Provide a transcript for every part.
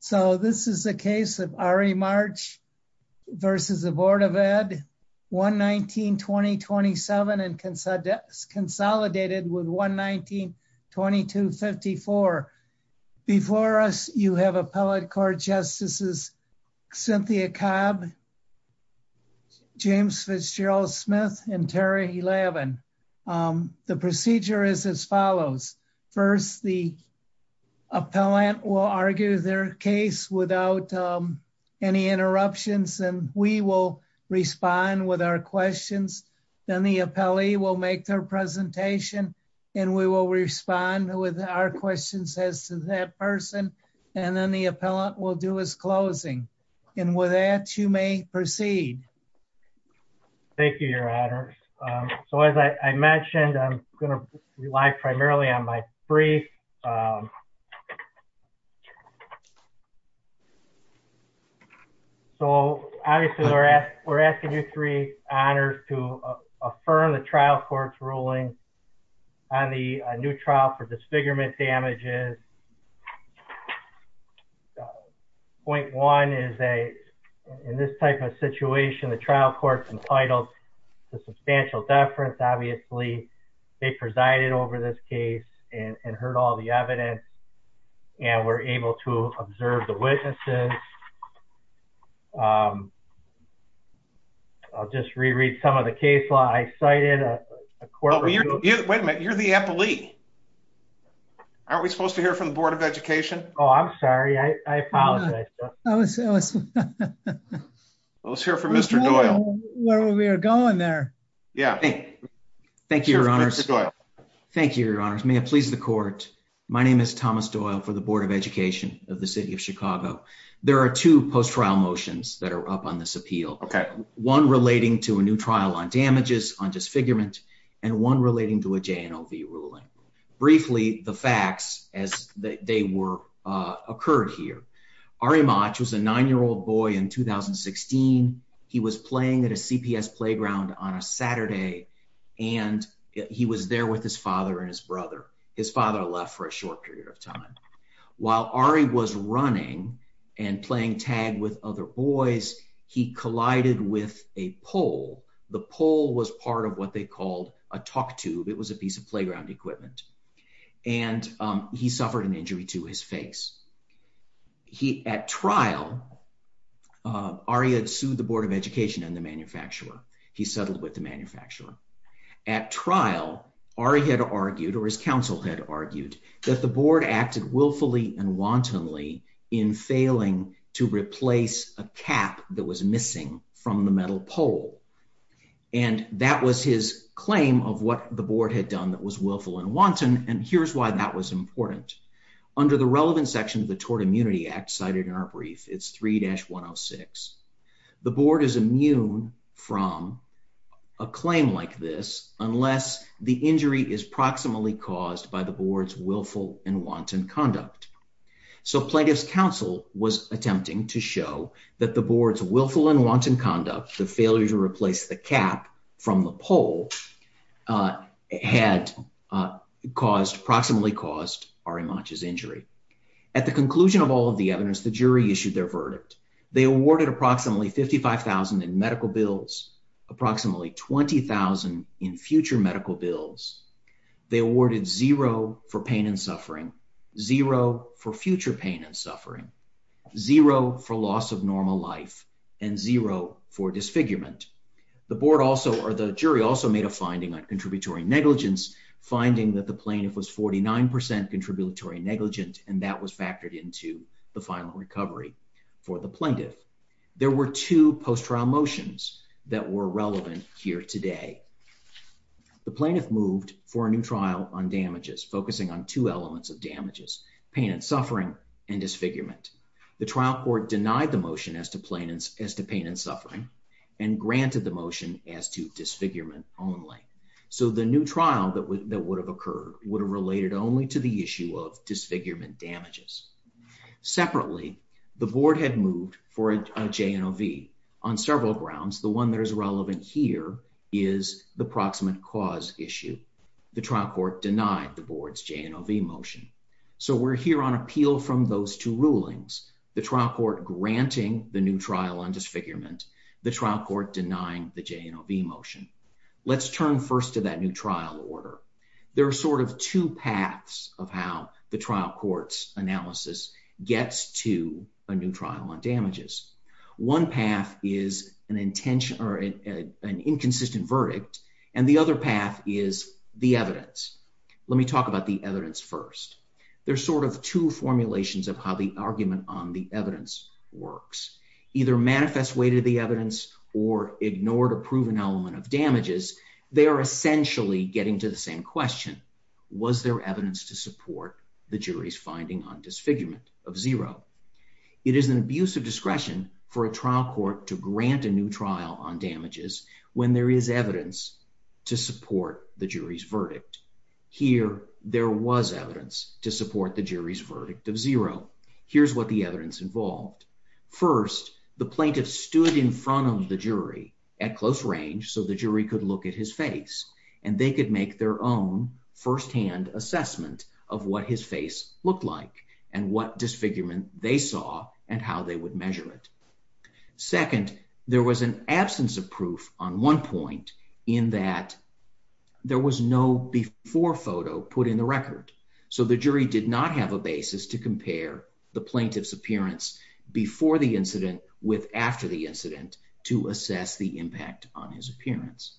So this is a case of RE March versus the Board of Ed 1-19-2027 and consolidated with 1-19-2254. Before us you have Appellate Court Justices Cynthia Cobb, James Fitzgerald-Smith, and Terry Levin. The procedure is as follows. First the appellant will argue their case without any interruptions and we will respond with our questions. Then the appellee will make their presentation and we will respond with our questions as to that person and then the appellant will do his closing. And with that you may proceed. Thank you your honors. So as I mentioned I'm going to rely primarily on my brief. So obviously we're asking you three honors to affirm the trial court's ruling on the new trial for disfigurement damages. Point one is that in this type of situation the trial court's entitled to substantial deference. Obviously they presided over this case and heard all the evidence and were able to observe the witnesses. I'll just reread some of the case law. I cited a court- Wait a minute you're the appellee. Aren't we supposed to hear from the Board of Education? Oh I'm sorry I apologize. Let's hear from Mr. Doyle. Where we are going there. Yeah. Thank you your honors. Thank you your honors. May it please the court. My name is Thomas Doyle for the Board of Education of the City of Chicago. There are two post-trial motions that are up on this appeal. Okay. One relating to a new trial on damages on disfigurement and one relating to a J&OV ruling. Briefly the facts as they were occurred here. Ari Motch was a nine-year-old boy in 2016. He was playing at a CPS playground on a Saturday and he was there with his father and his brother. His father left for a short period of time. While Ari was running and playing tag with other boys he collided with a pole. The pole was part of what they called a talk tube. It was a piece playground equipment. And he suffered an injury to his face. He at trial Ari had sued the Board of Education and the manufacturer. He settled with the manufacturer. At trial Ari had argued or his counsel had argued that the board acted willfully and wantonly in failing to replace a cap that was willful and wanton. And here's why that was important. Under the relevant section of the Tort Immunity Act cited in our brief it's 3-106. The board is immune from a claim like this unless the injury is proximally caused by the board's willful and wanton conduct. So plaintiff's counsel was attempting to show that the board's willful and wanton conduct the failure to replace the cap from the pole had caused proximally caused Ari Manch's injury. At the conclusion of all of the evidence the jury issued their verdict. They awarded approximately $55,000 in medical bills, approximately $20,000 in future medical bills. They awarded zero for pain and suffering, zero for future pain and suffering, zero for loss of normal life, and zero for disfigurement. The jury also made a finding on contributory negligence finding that the plaintiff was 49% contributory negligent and that was factored into the final recovery for the plaintiff. There were two post-trial motions that were relevant here today. The plaintiff moved for a new trial on damages focusing on two elements of damages pain and suffering and disfigurement. The trial court denied the motion as to pain and suffering and granted the motion as to disfigurement only. So the new trial that would have occurred would have related only to the issue of disfigurement damages. Separately, the board had moved for a J&OV on several grounds. The one that is relevant here is the proximate cause issue. The trial court denied the board's J&OV motion. So we're here on granting the new trial on disfigurement. The trial court denying the J&OV motion. Let's turn first to that new trial order. There are sort of two paths of how the trial court's analysis gets to a new trial on damages. One path is an intention or an inconsistent verdict and the other path is the evidence. Let me talk about the evidence first. There's sort of two formulations of how the evidence works. Either manifest way to the evidence or ignore to prove an element of damages. They are essentially getting to the same question. Was there evidence to support the jury's finding on disfigurement of zero? It is an abuse of discretion for a trial court to grant a new trial on damages when there is evidence to support the jury's verdict. Here there was evidence to support the jury's verdict of zero. Here's what the evidence involved. First, the plaintiff stood in front of the jury at close range so the jury could look at his face and they could make their own first-hand assessment of what his face looked like and what disfigurement they saw and how they would measure it. Second, there was an absence of proof on one point in that there was no before photo put in the record. So the jury did not have a basis to compare the plaintiff's appearance before the incident with after the incident to assess the impact on his appearance.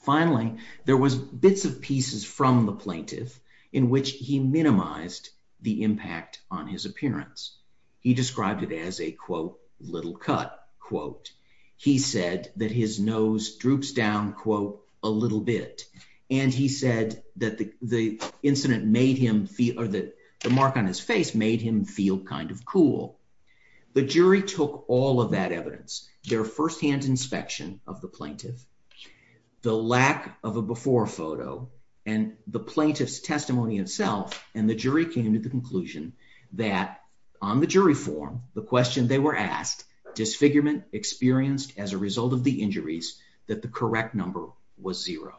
Finally, there was bits of pieces from the plaintiff in which he minimized the impact on his appearance. He described it as a quote little cut quote. He said that his nose droops down quote a little bit and he said that the incident made him feel or that the mark on his face made him feel kind of cool. The jury took all of that evidence, their first-hand inspection of the plaintiff, the lack of a before photo and the plaintiff's testimony itself and the jury came to the conclusion that on the jury form the question they were asked, disfigurement experienced as a result of the injuries that the correct number was zero.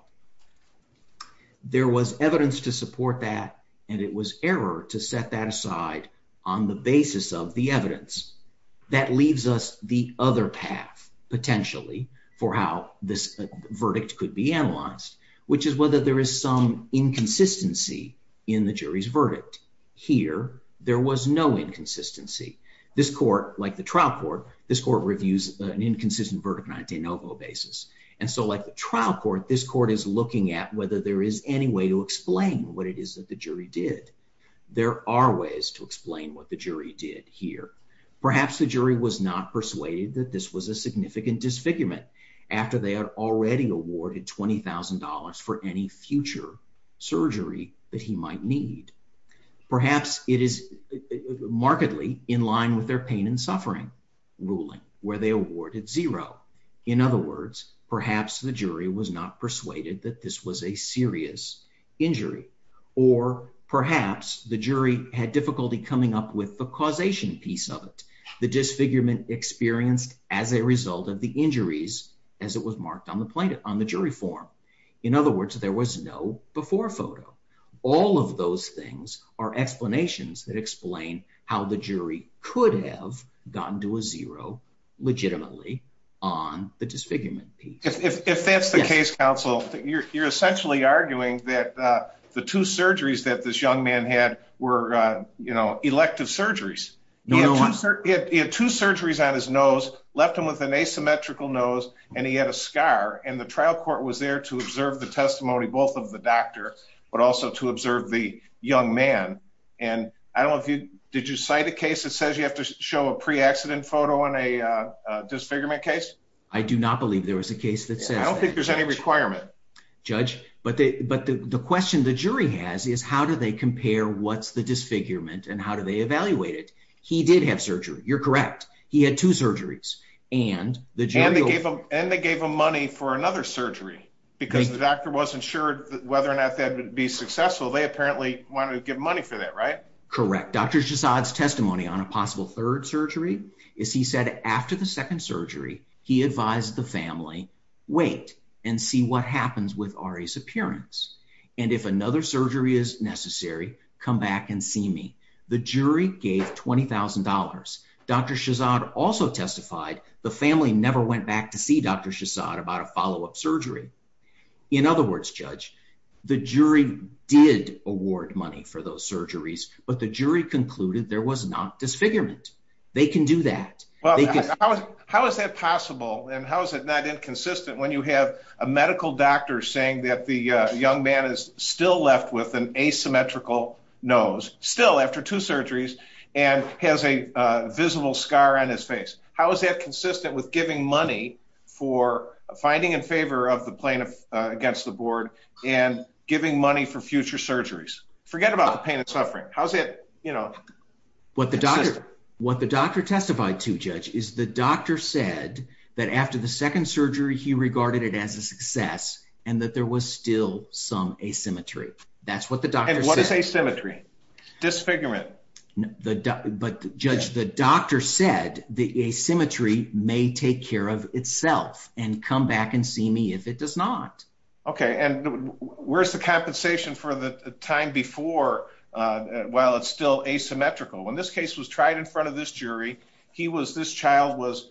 There was evidence to support that and it was error to set that aside on the basis of the evidence. That leaves us the other path potentially for how this verdict could be analyzed which is whether there is some inconsistency in the jury's verdict. Here there was no inconsistency. This court like the trial court, this court reviews an inconsistent verdict on a de novo basis and so like the trial court, this court is looking at whether there is any way to explain what it is that the jury did. There are ways to explain what the jury did here. Perhaps the jury was not persuaded that this was a significant disfigurement after they had already awarded $20,000 for any future surgery that he might need. Perhaps it is markedly in line with their pain and suffering ruling where they awarded zero. In other words, perhaps the jury was not persuaded that this was a serious injury or perhaps the jury had difficulty coming up with the causation piece of it. The disfigurement experienced as a result of the injuries as it was marked on the plaintiff on the jury form. In other words, there was no photo. All of those things are explanations that explain how the jury could have gotten to a zero legitimately on the disfigurement piece. If that's the case counsel, you're essentially arguing that the two surgeries that this young man had were, you know, elective surgeries. He had two surgeries on his nose, left him with an asymmetrical nose and he had a scar and the trial court was there to observe the testimony both of the doctor, but also to observe the young man. And I don't know if you, did you cite a case that says you have to show a pre-accident photo in a disfigurement case? I do not believe there was a case that says that. I don't think there's any requirement. Judge, but the question the jury has is how do they compare what's the disfigurement and how do they evaluate it? He did have surgery. You're correct. He had two surgeries and they gave him money for another surgery because the doctor wasn't sure whether or not that would be successful. They apparently wanted to give money for that, right? Correct. Dr. Shahzad's testimony on a possible third surgery is he said after the second surgery, he advised the family, wait and see what happens with Ari's appearance. And if another surgery is necessary, come back and see me. The jury gave $20,000. Dr. Shahzad also testified the family never went back to see Dr. Shahzad about a follow-up surgery. In other words, Judge, the jury did award money for those surgeries, but the jury concluded there was not disfigurement. They can do that. How is that possible? And how is it not inconsistent when you have a medical doctor saying that the young man is still left with an asymmetrical nose, still after two surgeries, and has a visible scar on his face? How is that consistent with giving money for finding in favor of the plaintiff against the board and giving money for future surgeries? Forget about the pain and suffering. How's that, you know? What the doctor testified to, Judge, is the doctor said that after the second surgery, he regarded it as a success and that there was still some asymmetry. That's what the doctor said. And what is asymmetry? Disfigurement? But Judge, the doctor said the asymmetry may take care of itself and come back and see me if it does not. Okay, and where's the compensation for the time before while it's still asymmetrical? When this case was tried in front of this jury, this child was,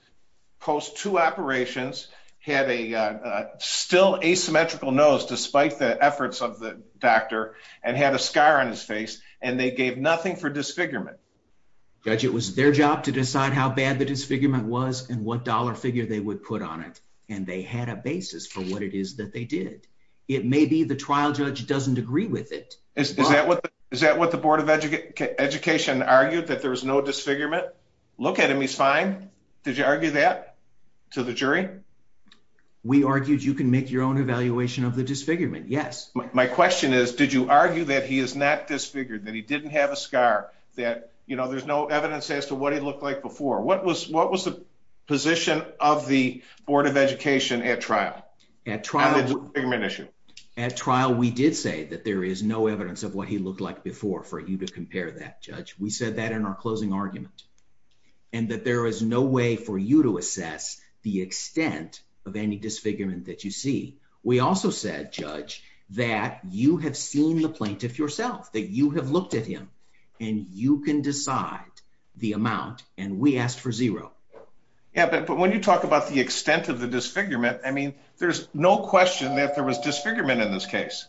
post two operations, had a still asymmetrical nose, despite the efforts of the doctor, and had a scar on his face, and they gave nothing for disfigurement. Judge, it was their job to decide how bad the disfigurement was and what dollar figure they would put on it. And they had a basis for what it is that they did. It may be the trial doesn't agree with it. Is that what the Board of Education argued, that there was no disfigurement? Look at him, he's fine. Did you argue that to the jury? We argued you can make your own evaluation of the disfigurement, yes. My question is, did you argue that he is not disfigured, that he didn't have a scar, that, you know, there's no evidence as to what he looked like before? What was the of the Board of Education at trial? At trial, we did say that there is no evidence of what he looked like before for you to compare that, Judge. We said that in our closing argument, and that there is no way for you to assess the extent of any disfigurement that you see. We also said, Judge, that you have seen the plaintiff yourself, that you have looked at him, and you can decide the amount, and we asked for zero. Yeah, but when you talk about the extent of the disfigurement, I mean, there's no question that there was disfigurement in this case.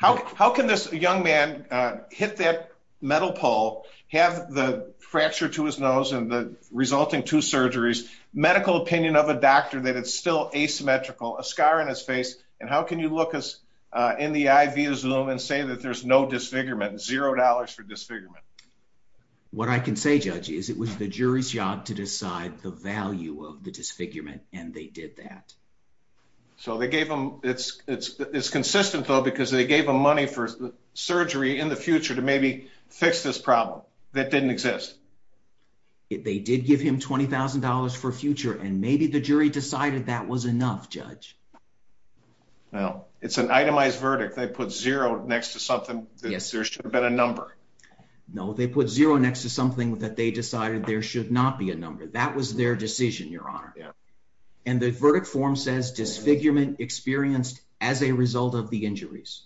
How can this young man hit that metal pole, have the fracture to his nose and the resulting two surgeries, medical opinion of a doctor that it's still asymmetrical, a scar in his face, and how can you look in the eye via Zoom and say that there's no disfigurement, zero dollars for disfigurement? What I can say, Judge, is it was the jury's job to decide the value of the disfigurement, and they did that. So they gave him, it's consistent though, because they gave him money for surgery in the future to maybe fix this problem that didn't exist. They did give him $20,000 for future, and maybe the jury decided that was enough, Judge. Well, it's an itemized verdict. They put zero next to something that there should have been a number. No, they put zero next to something that they decided there should not be a number. That was their decision, Your Honor. And the verdict form says disfigurement experienced as a result of the injuries.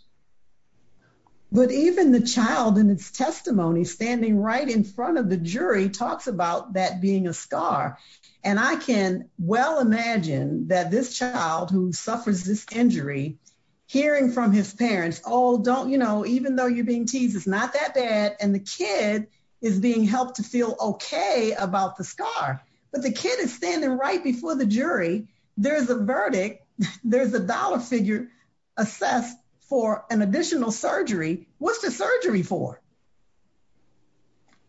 But even the child in its testimony standing right in front of the jury talks about that being a scar, and I can well imagine that this child who suffers this injury, hearing from his parents, oh, don't, you know, even though you're being teased, it's not that bad, and the kid is being helped to feel okay about the scar. But the kid is standing right before the jury. There's a verdict. There's a dollar figure assessed for an additional surgery. What's the surgery for?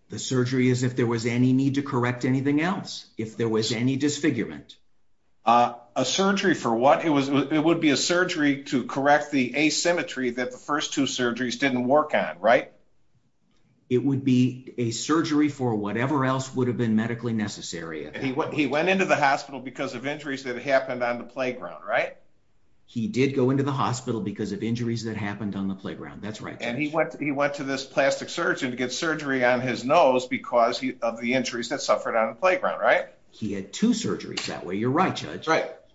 The surgery is if there was any need to correct anything else, if there was any disfigurement. A surgery for what? It would be a surgery to correct the asymmetry that the first two surgeries didn't work on, right? It would be a surgery for whatever else would have been medically necessary. He went into the hospital because of injuries that happened on the playground, right? He did go into the hospital because of injuries that happened on playground. That's right. And he went to this plastic surgeon to get surgery on his nose because of the injuries that suffered on the playground, right? He had two surgeries that way. You're right, Judge.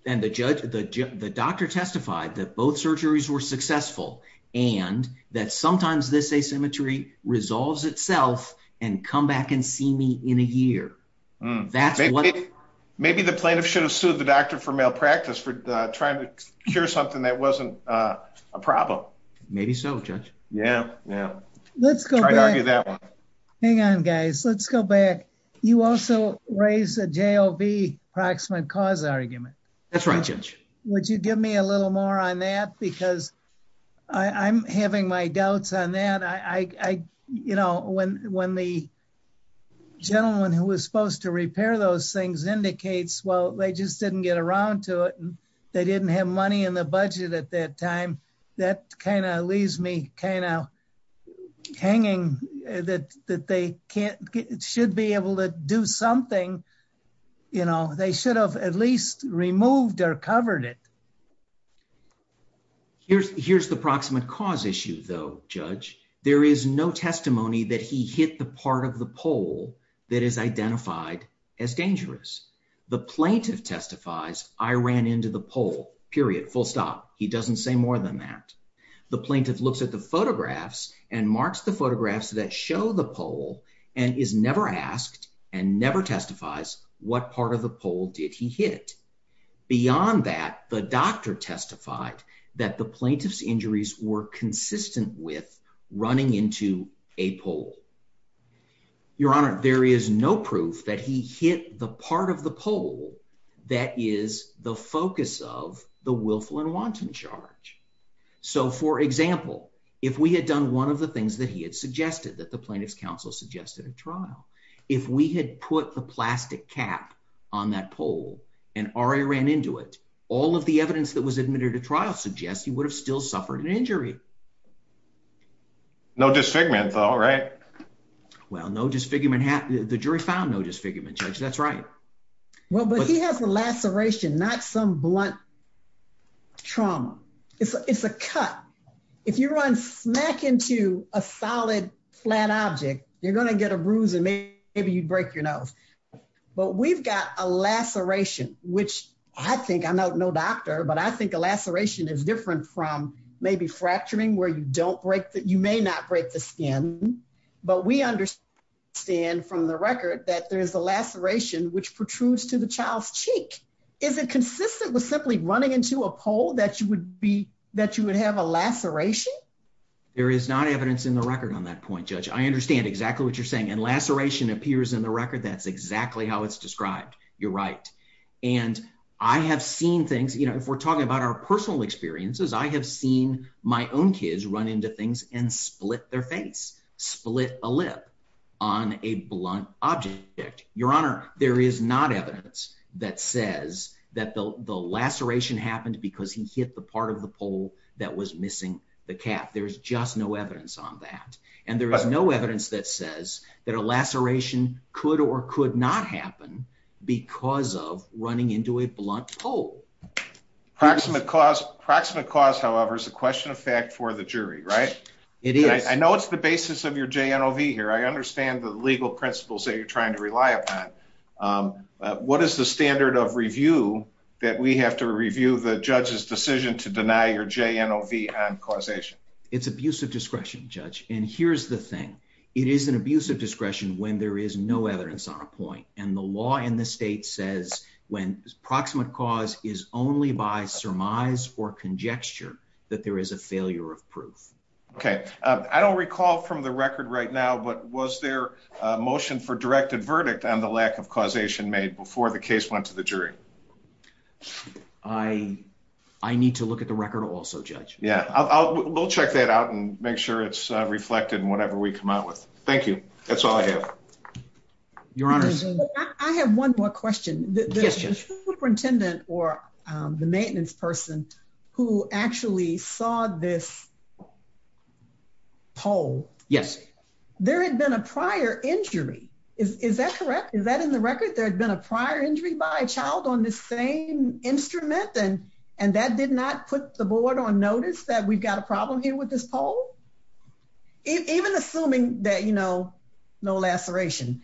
And the doctor testified that both surgeries were successful, and that sometimes this asymmetry resolves itself and come back and see me in a year. Maybe the plaintiff should have sued the doctor for malpractice for trying to cure something that wasn't a problem. Maybe so, Judge. Yeah, yeah. Let's go back. Hang on, guys. Let's go back. You also raise a JLB approximate cause argument. That's right, Judge. Would you give me a little more on that? Because I'm having my doubts on that. You know, when the gentleman who was supposed to repair those things indicates, well, they just didn't get around to it, and they didn't have money in the budget at that time, that kind of leaves me kind of hanging that they should be able to do something. You know, they should have at least removed or covered it. Here's the approximate cause issue, though, Judge. There is no testimony that he hit the part of the pole that is identified as dangerous. The plaintiff testifies, I ran into the pole, period, full stop. He doesn't say more than that. The plaintiff looks at the photographs and marks the photographs that show the pole and is never asked and never testifies what part of the pole did he hit. Beyond that, the doctor testified that the plaintiff's injuries were consistent with running into a pole. Your Honor, there is no proof that he hit the part of the pole that is the focus of the willful and wanton charge. So, for example, if we had done one of the things that he had suggested, that the plaintiff's counsel suggested at trial, if we had put the plastic cap on that pole and already ran into it, all of the evidence that was admitted at trial suggests he would have still suffered an injury. No disfigurement, though, right? Well, no disfigurement. The jury found no disfigurement, Judge. That's right. Well, but he has a laceration, not some blunt trauma. It's a cut. If you run smack into a solid, flat object, you're going to get a bruise and maybe you'd break your nose. But we've got a laceration, which I think, I'm no doctor, but I think a laceration is different from maybe fracturing, where you don't break, you may not break the skin. But we understand from the record that there is a laceration which protrudes to the child's cheek. Is it consistent with simply running into a pole that you would be, that you would have a laceration? There is not evidence in the record on that point, Judge. I understand exactly what you're saying. And laceration appears in the record. That's exactly how it's described. You're right. And I have seen things, you know, if we're talking about our personal experiences, I have seen my own kids run into things and split their face, split a lip on a blunt object. Your Honor, there is not evidence that says that the laceration happened because he hit the part of the pole that was missing the cap. There's just no evidence on that. And there is no evidence that says that a laceration could or could not happen because of running into a blunt pole. Proximate cause. Proximate cause, however, is a question of fact for the jury, right? It is. I know it's the basis of your JNOV here. I understand the legal principles that you're trying to rely upon. What is the standard of review that we have to review the judge's decision to deny your JNOV on causation? It's abuse of discretion, Judge. And here's the thing. It is an abuse of discretion when there is no evidence on a point. And the law in the state says when proximate cause is only by surmise or conjecture that there is a failure of proof. Okay. I don't recall from the record right now, but was there a motion for directed verdict on the lack of causation made before the case went to the jury? I need to look at the record also, Judge. Yeah. We'll check that out and make sure it's reflected in whatever we come out with. Thank you. That's all I have. Your Honor, I have one more question. The superintendent or the maintenance person who actually saw this poll, there had been a prior injury. Is that correct? Is that in the record? There had been a prior injury by a child on this same instrument and that did not put the board on notice that we've got a problem here with this poll? Even assuming that, you know, no laceration.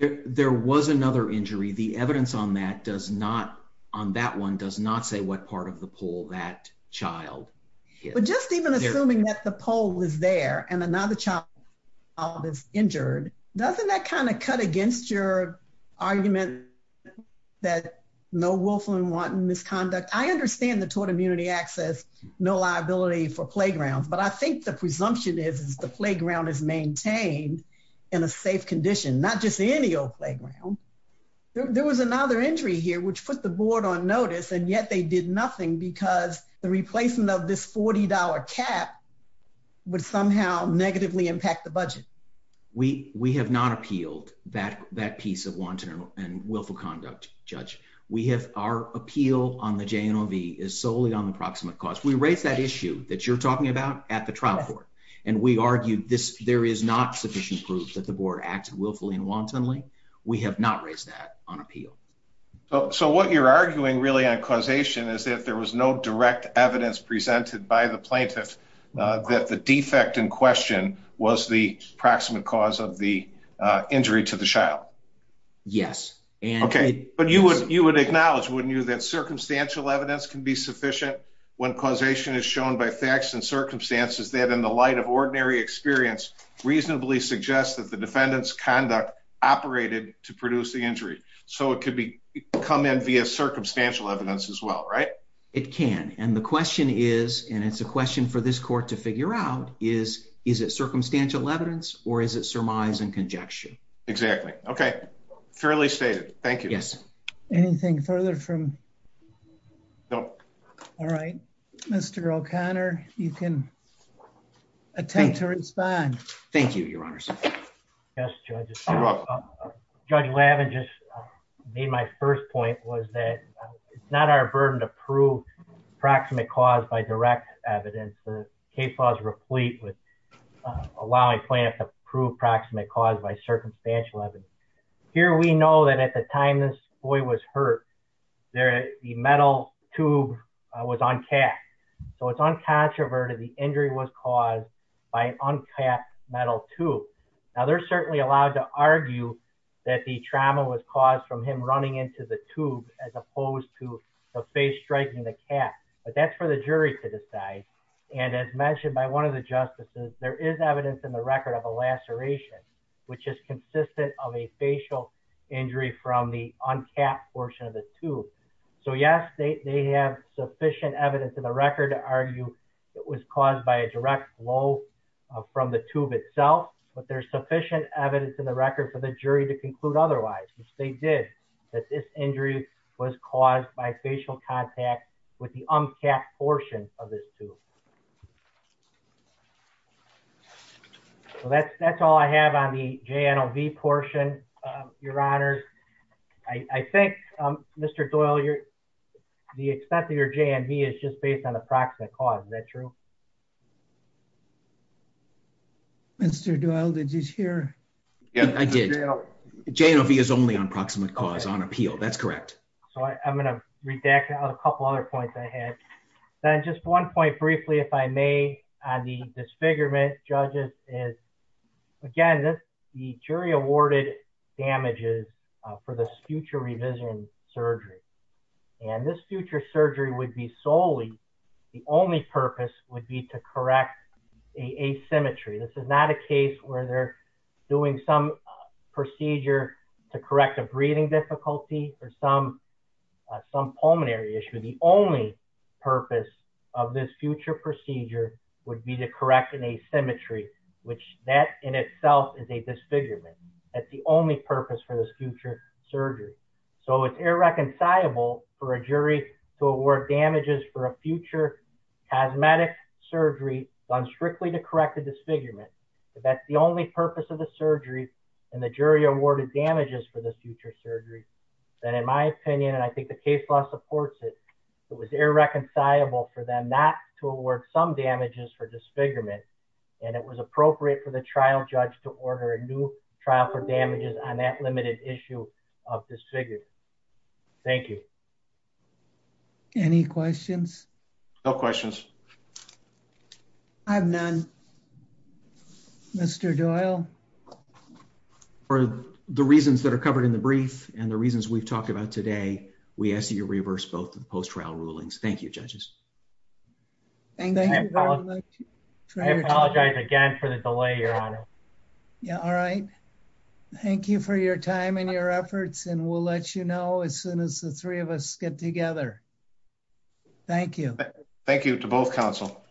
There was another injury. The evidence on that does not, on that one does not say what part of the poll that child hit. But just even assuming that the poll was there and another child is injured, doesn't that kind of cut against your argument that no wolf and wanton misconduct? I understand the tort immunity access, no liability for playgrounds, but I think the presumption is, is the playground is maintained in a safe condition, not just any old playground. There was another injury here, which put the board on notice and yet they did nothing because the replacement of this $40 cap would somehow negatively impact the budget. We have not appealed that piece of wanton and willful conduct, Judge. Our appeal on the JNOV is solely on the proximate cause. We raised that issue that you're talking about at the trial court and we argued this. There is not sufficient proof that the board acted willfully and wantonly. We have not raised that on appeal. So what you're arguing really on causation is that there was no direct evidence presented by the plaintiff that the defect in question was the proximate cause of the injury to the child. Yes. Okay. But you would, you would acknowledge, wouldn't you, that circumstantial evidence can be sufficient when causation is shown by facts and circumstances that in the light of ordinary experience, reasonably suggest that the defendant's conduct operated to produce the injury. So it could be come in via circumstantial evidence as well, right? It can. And the question is, and it's a question for this court to figure out is, is it circumstantial evidence or is it surmise and conjecture? Exactly. Okay. Fairly stated. Thank you. Yes. Anything further from, no. All right. Mr. O'Connor, you can attempt to respond. Thank you, your honors. Yes. Judge Lavin just made my first point was that it's not our burden to prove proximate cause by direct evidence. The case was replete with allowing plaintiff to prove proximate cause by circumstantial evidence. Here, we know that at the time this boy was hurt, there, the metal tube was uncapped. So it's uncontroverted. The injury was caused by uncapped metal tube. Now they're certainly allowed to argue that the trauma was caused from him running into the tube as opposed to the face striking the cap, but that's for the jury to decide. And as mentioned by one of the justices, there is evidence in the record of a laceration, which is consistent of a facial injury from the uncapped portion of the tube. So yes, they have sufficient evidence in the record to argue it was caused by a direct blow from the tube itself, but there's sufficient evidence in the record for the jury to conclude otherwise, which they did, that this injury was caused by a facial contact with the uncapped portion of this tube. So that's all I have on the J&OV portion, your honor. I think, Mr. Doyle, the extent of your J&V is just based on the proximate cause. Is that true? Mr. Doyle, did you hear? Yeah, I did. J&OV is only on proximate cause, on appeal. That's correct. So I'm going to redact a couple other points I had. Then just one point briefly, if I may, on the disfigurement judges is, again, the jury awarded damages for this future revision surgery. And this future surgery would be solely, the only purpose would be to correct a asymmetry. This is not a case where they're doing some procedure to correct a breathing difficulty or some pulmonary issue. The only purpose of this future procedure would be to correct an asymmetry, which that in itself is a disfigurement. That's the only purpose for this future surgery. So it's irreconcilable for a jury to award damages for a future cosmetic surgery done strictly to correct a disfigurement. That's the only purpose of the surgery. And in my opinion, and I think the case law supports it, it was irreconcilable for them not to award some damages for disfigurement. And it was appropriate for the trial judge to order a new trial for damages on that limited issue of disfigurement. Thank you. Any questions? No The reasons we've talked about today, we ask that you reverse both of the post-trial rulings. Thank you, judges. Thank you very much. I apologize again for the delay, your honor. Yeah. All right. Thank you for your time and your efforts. And we'll let you know as soon as the three of us get together. Thank you. Thank you to both counsel.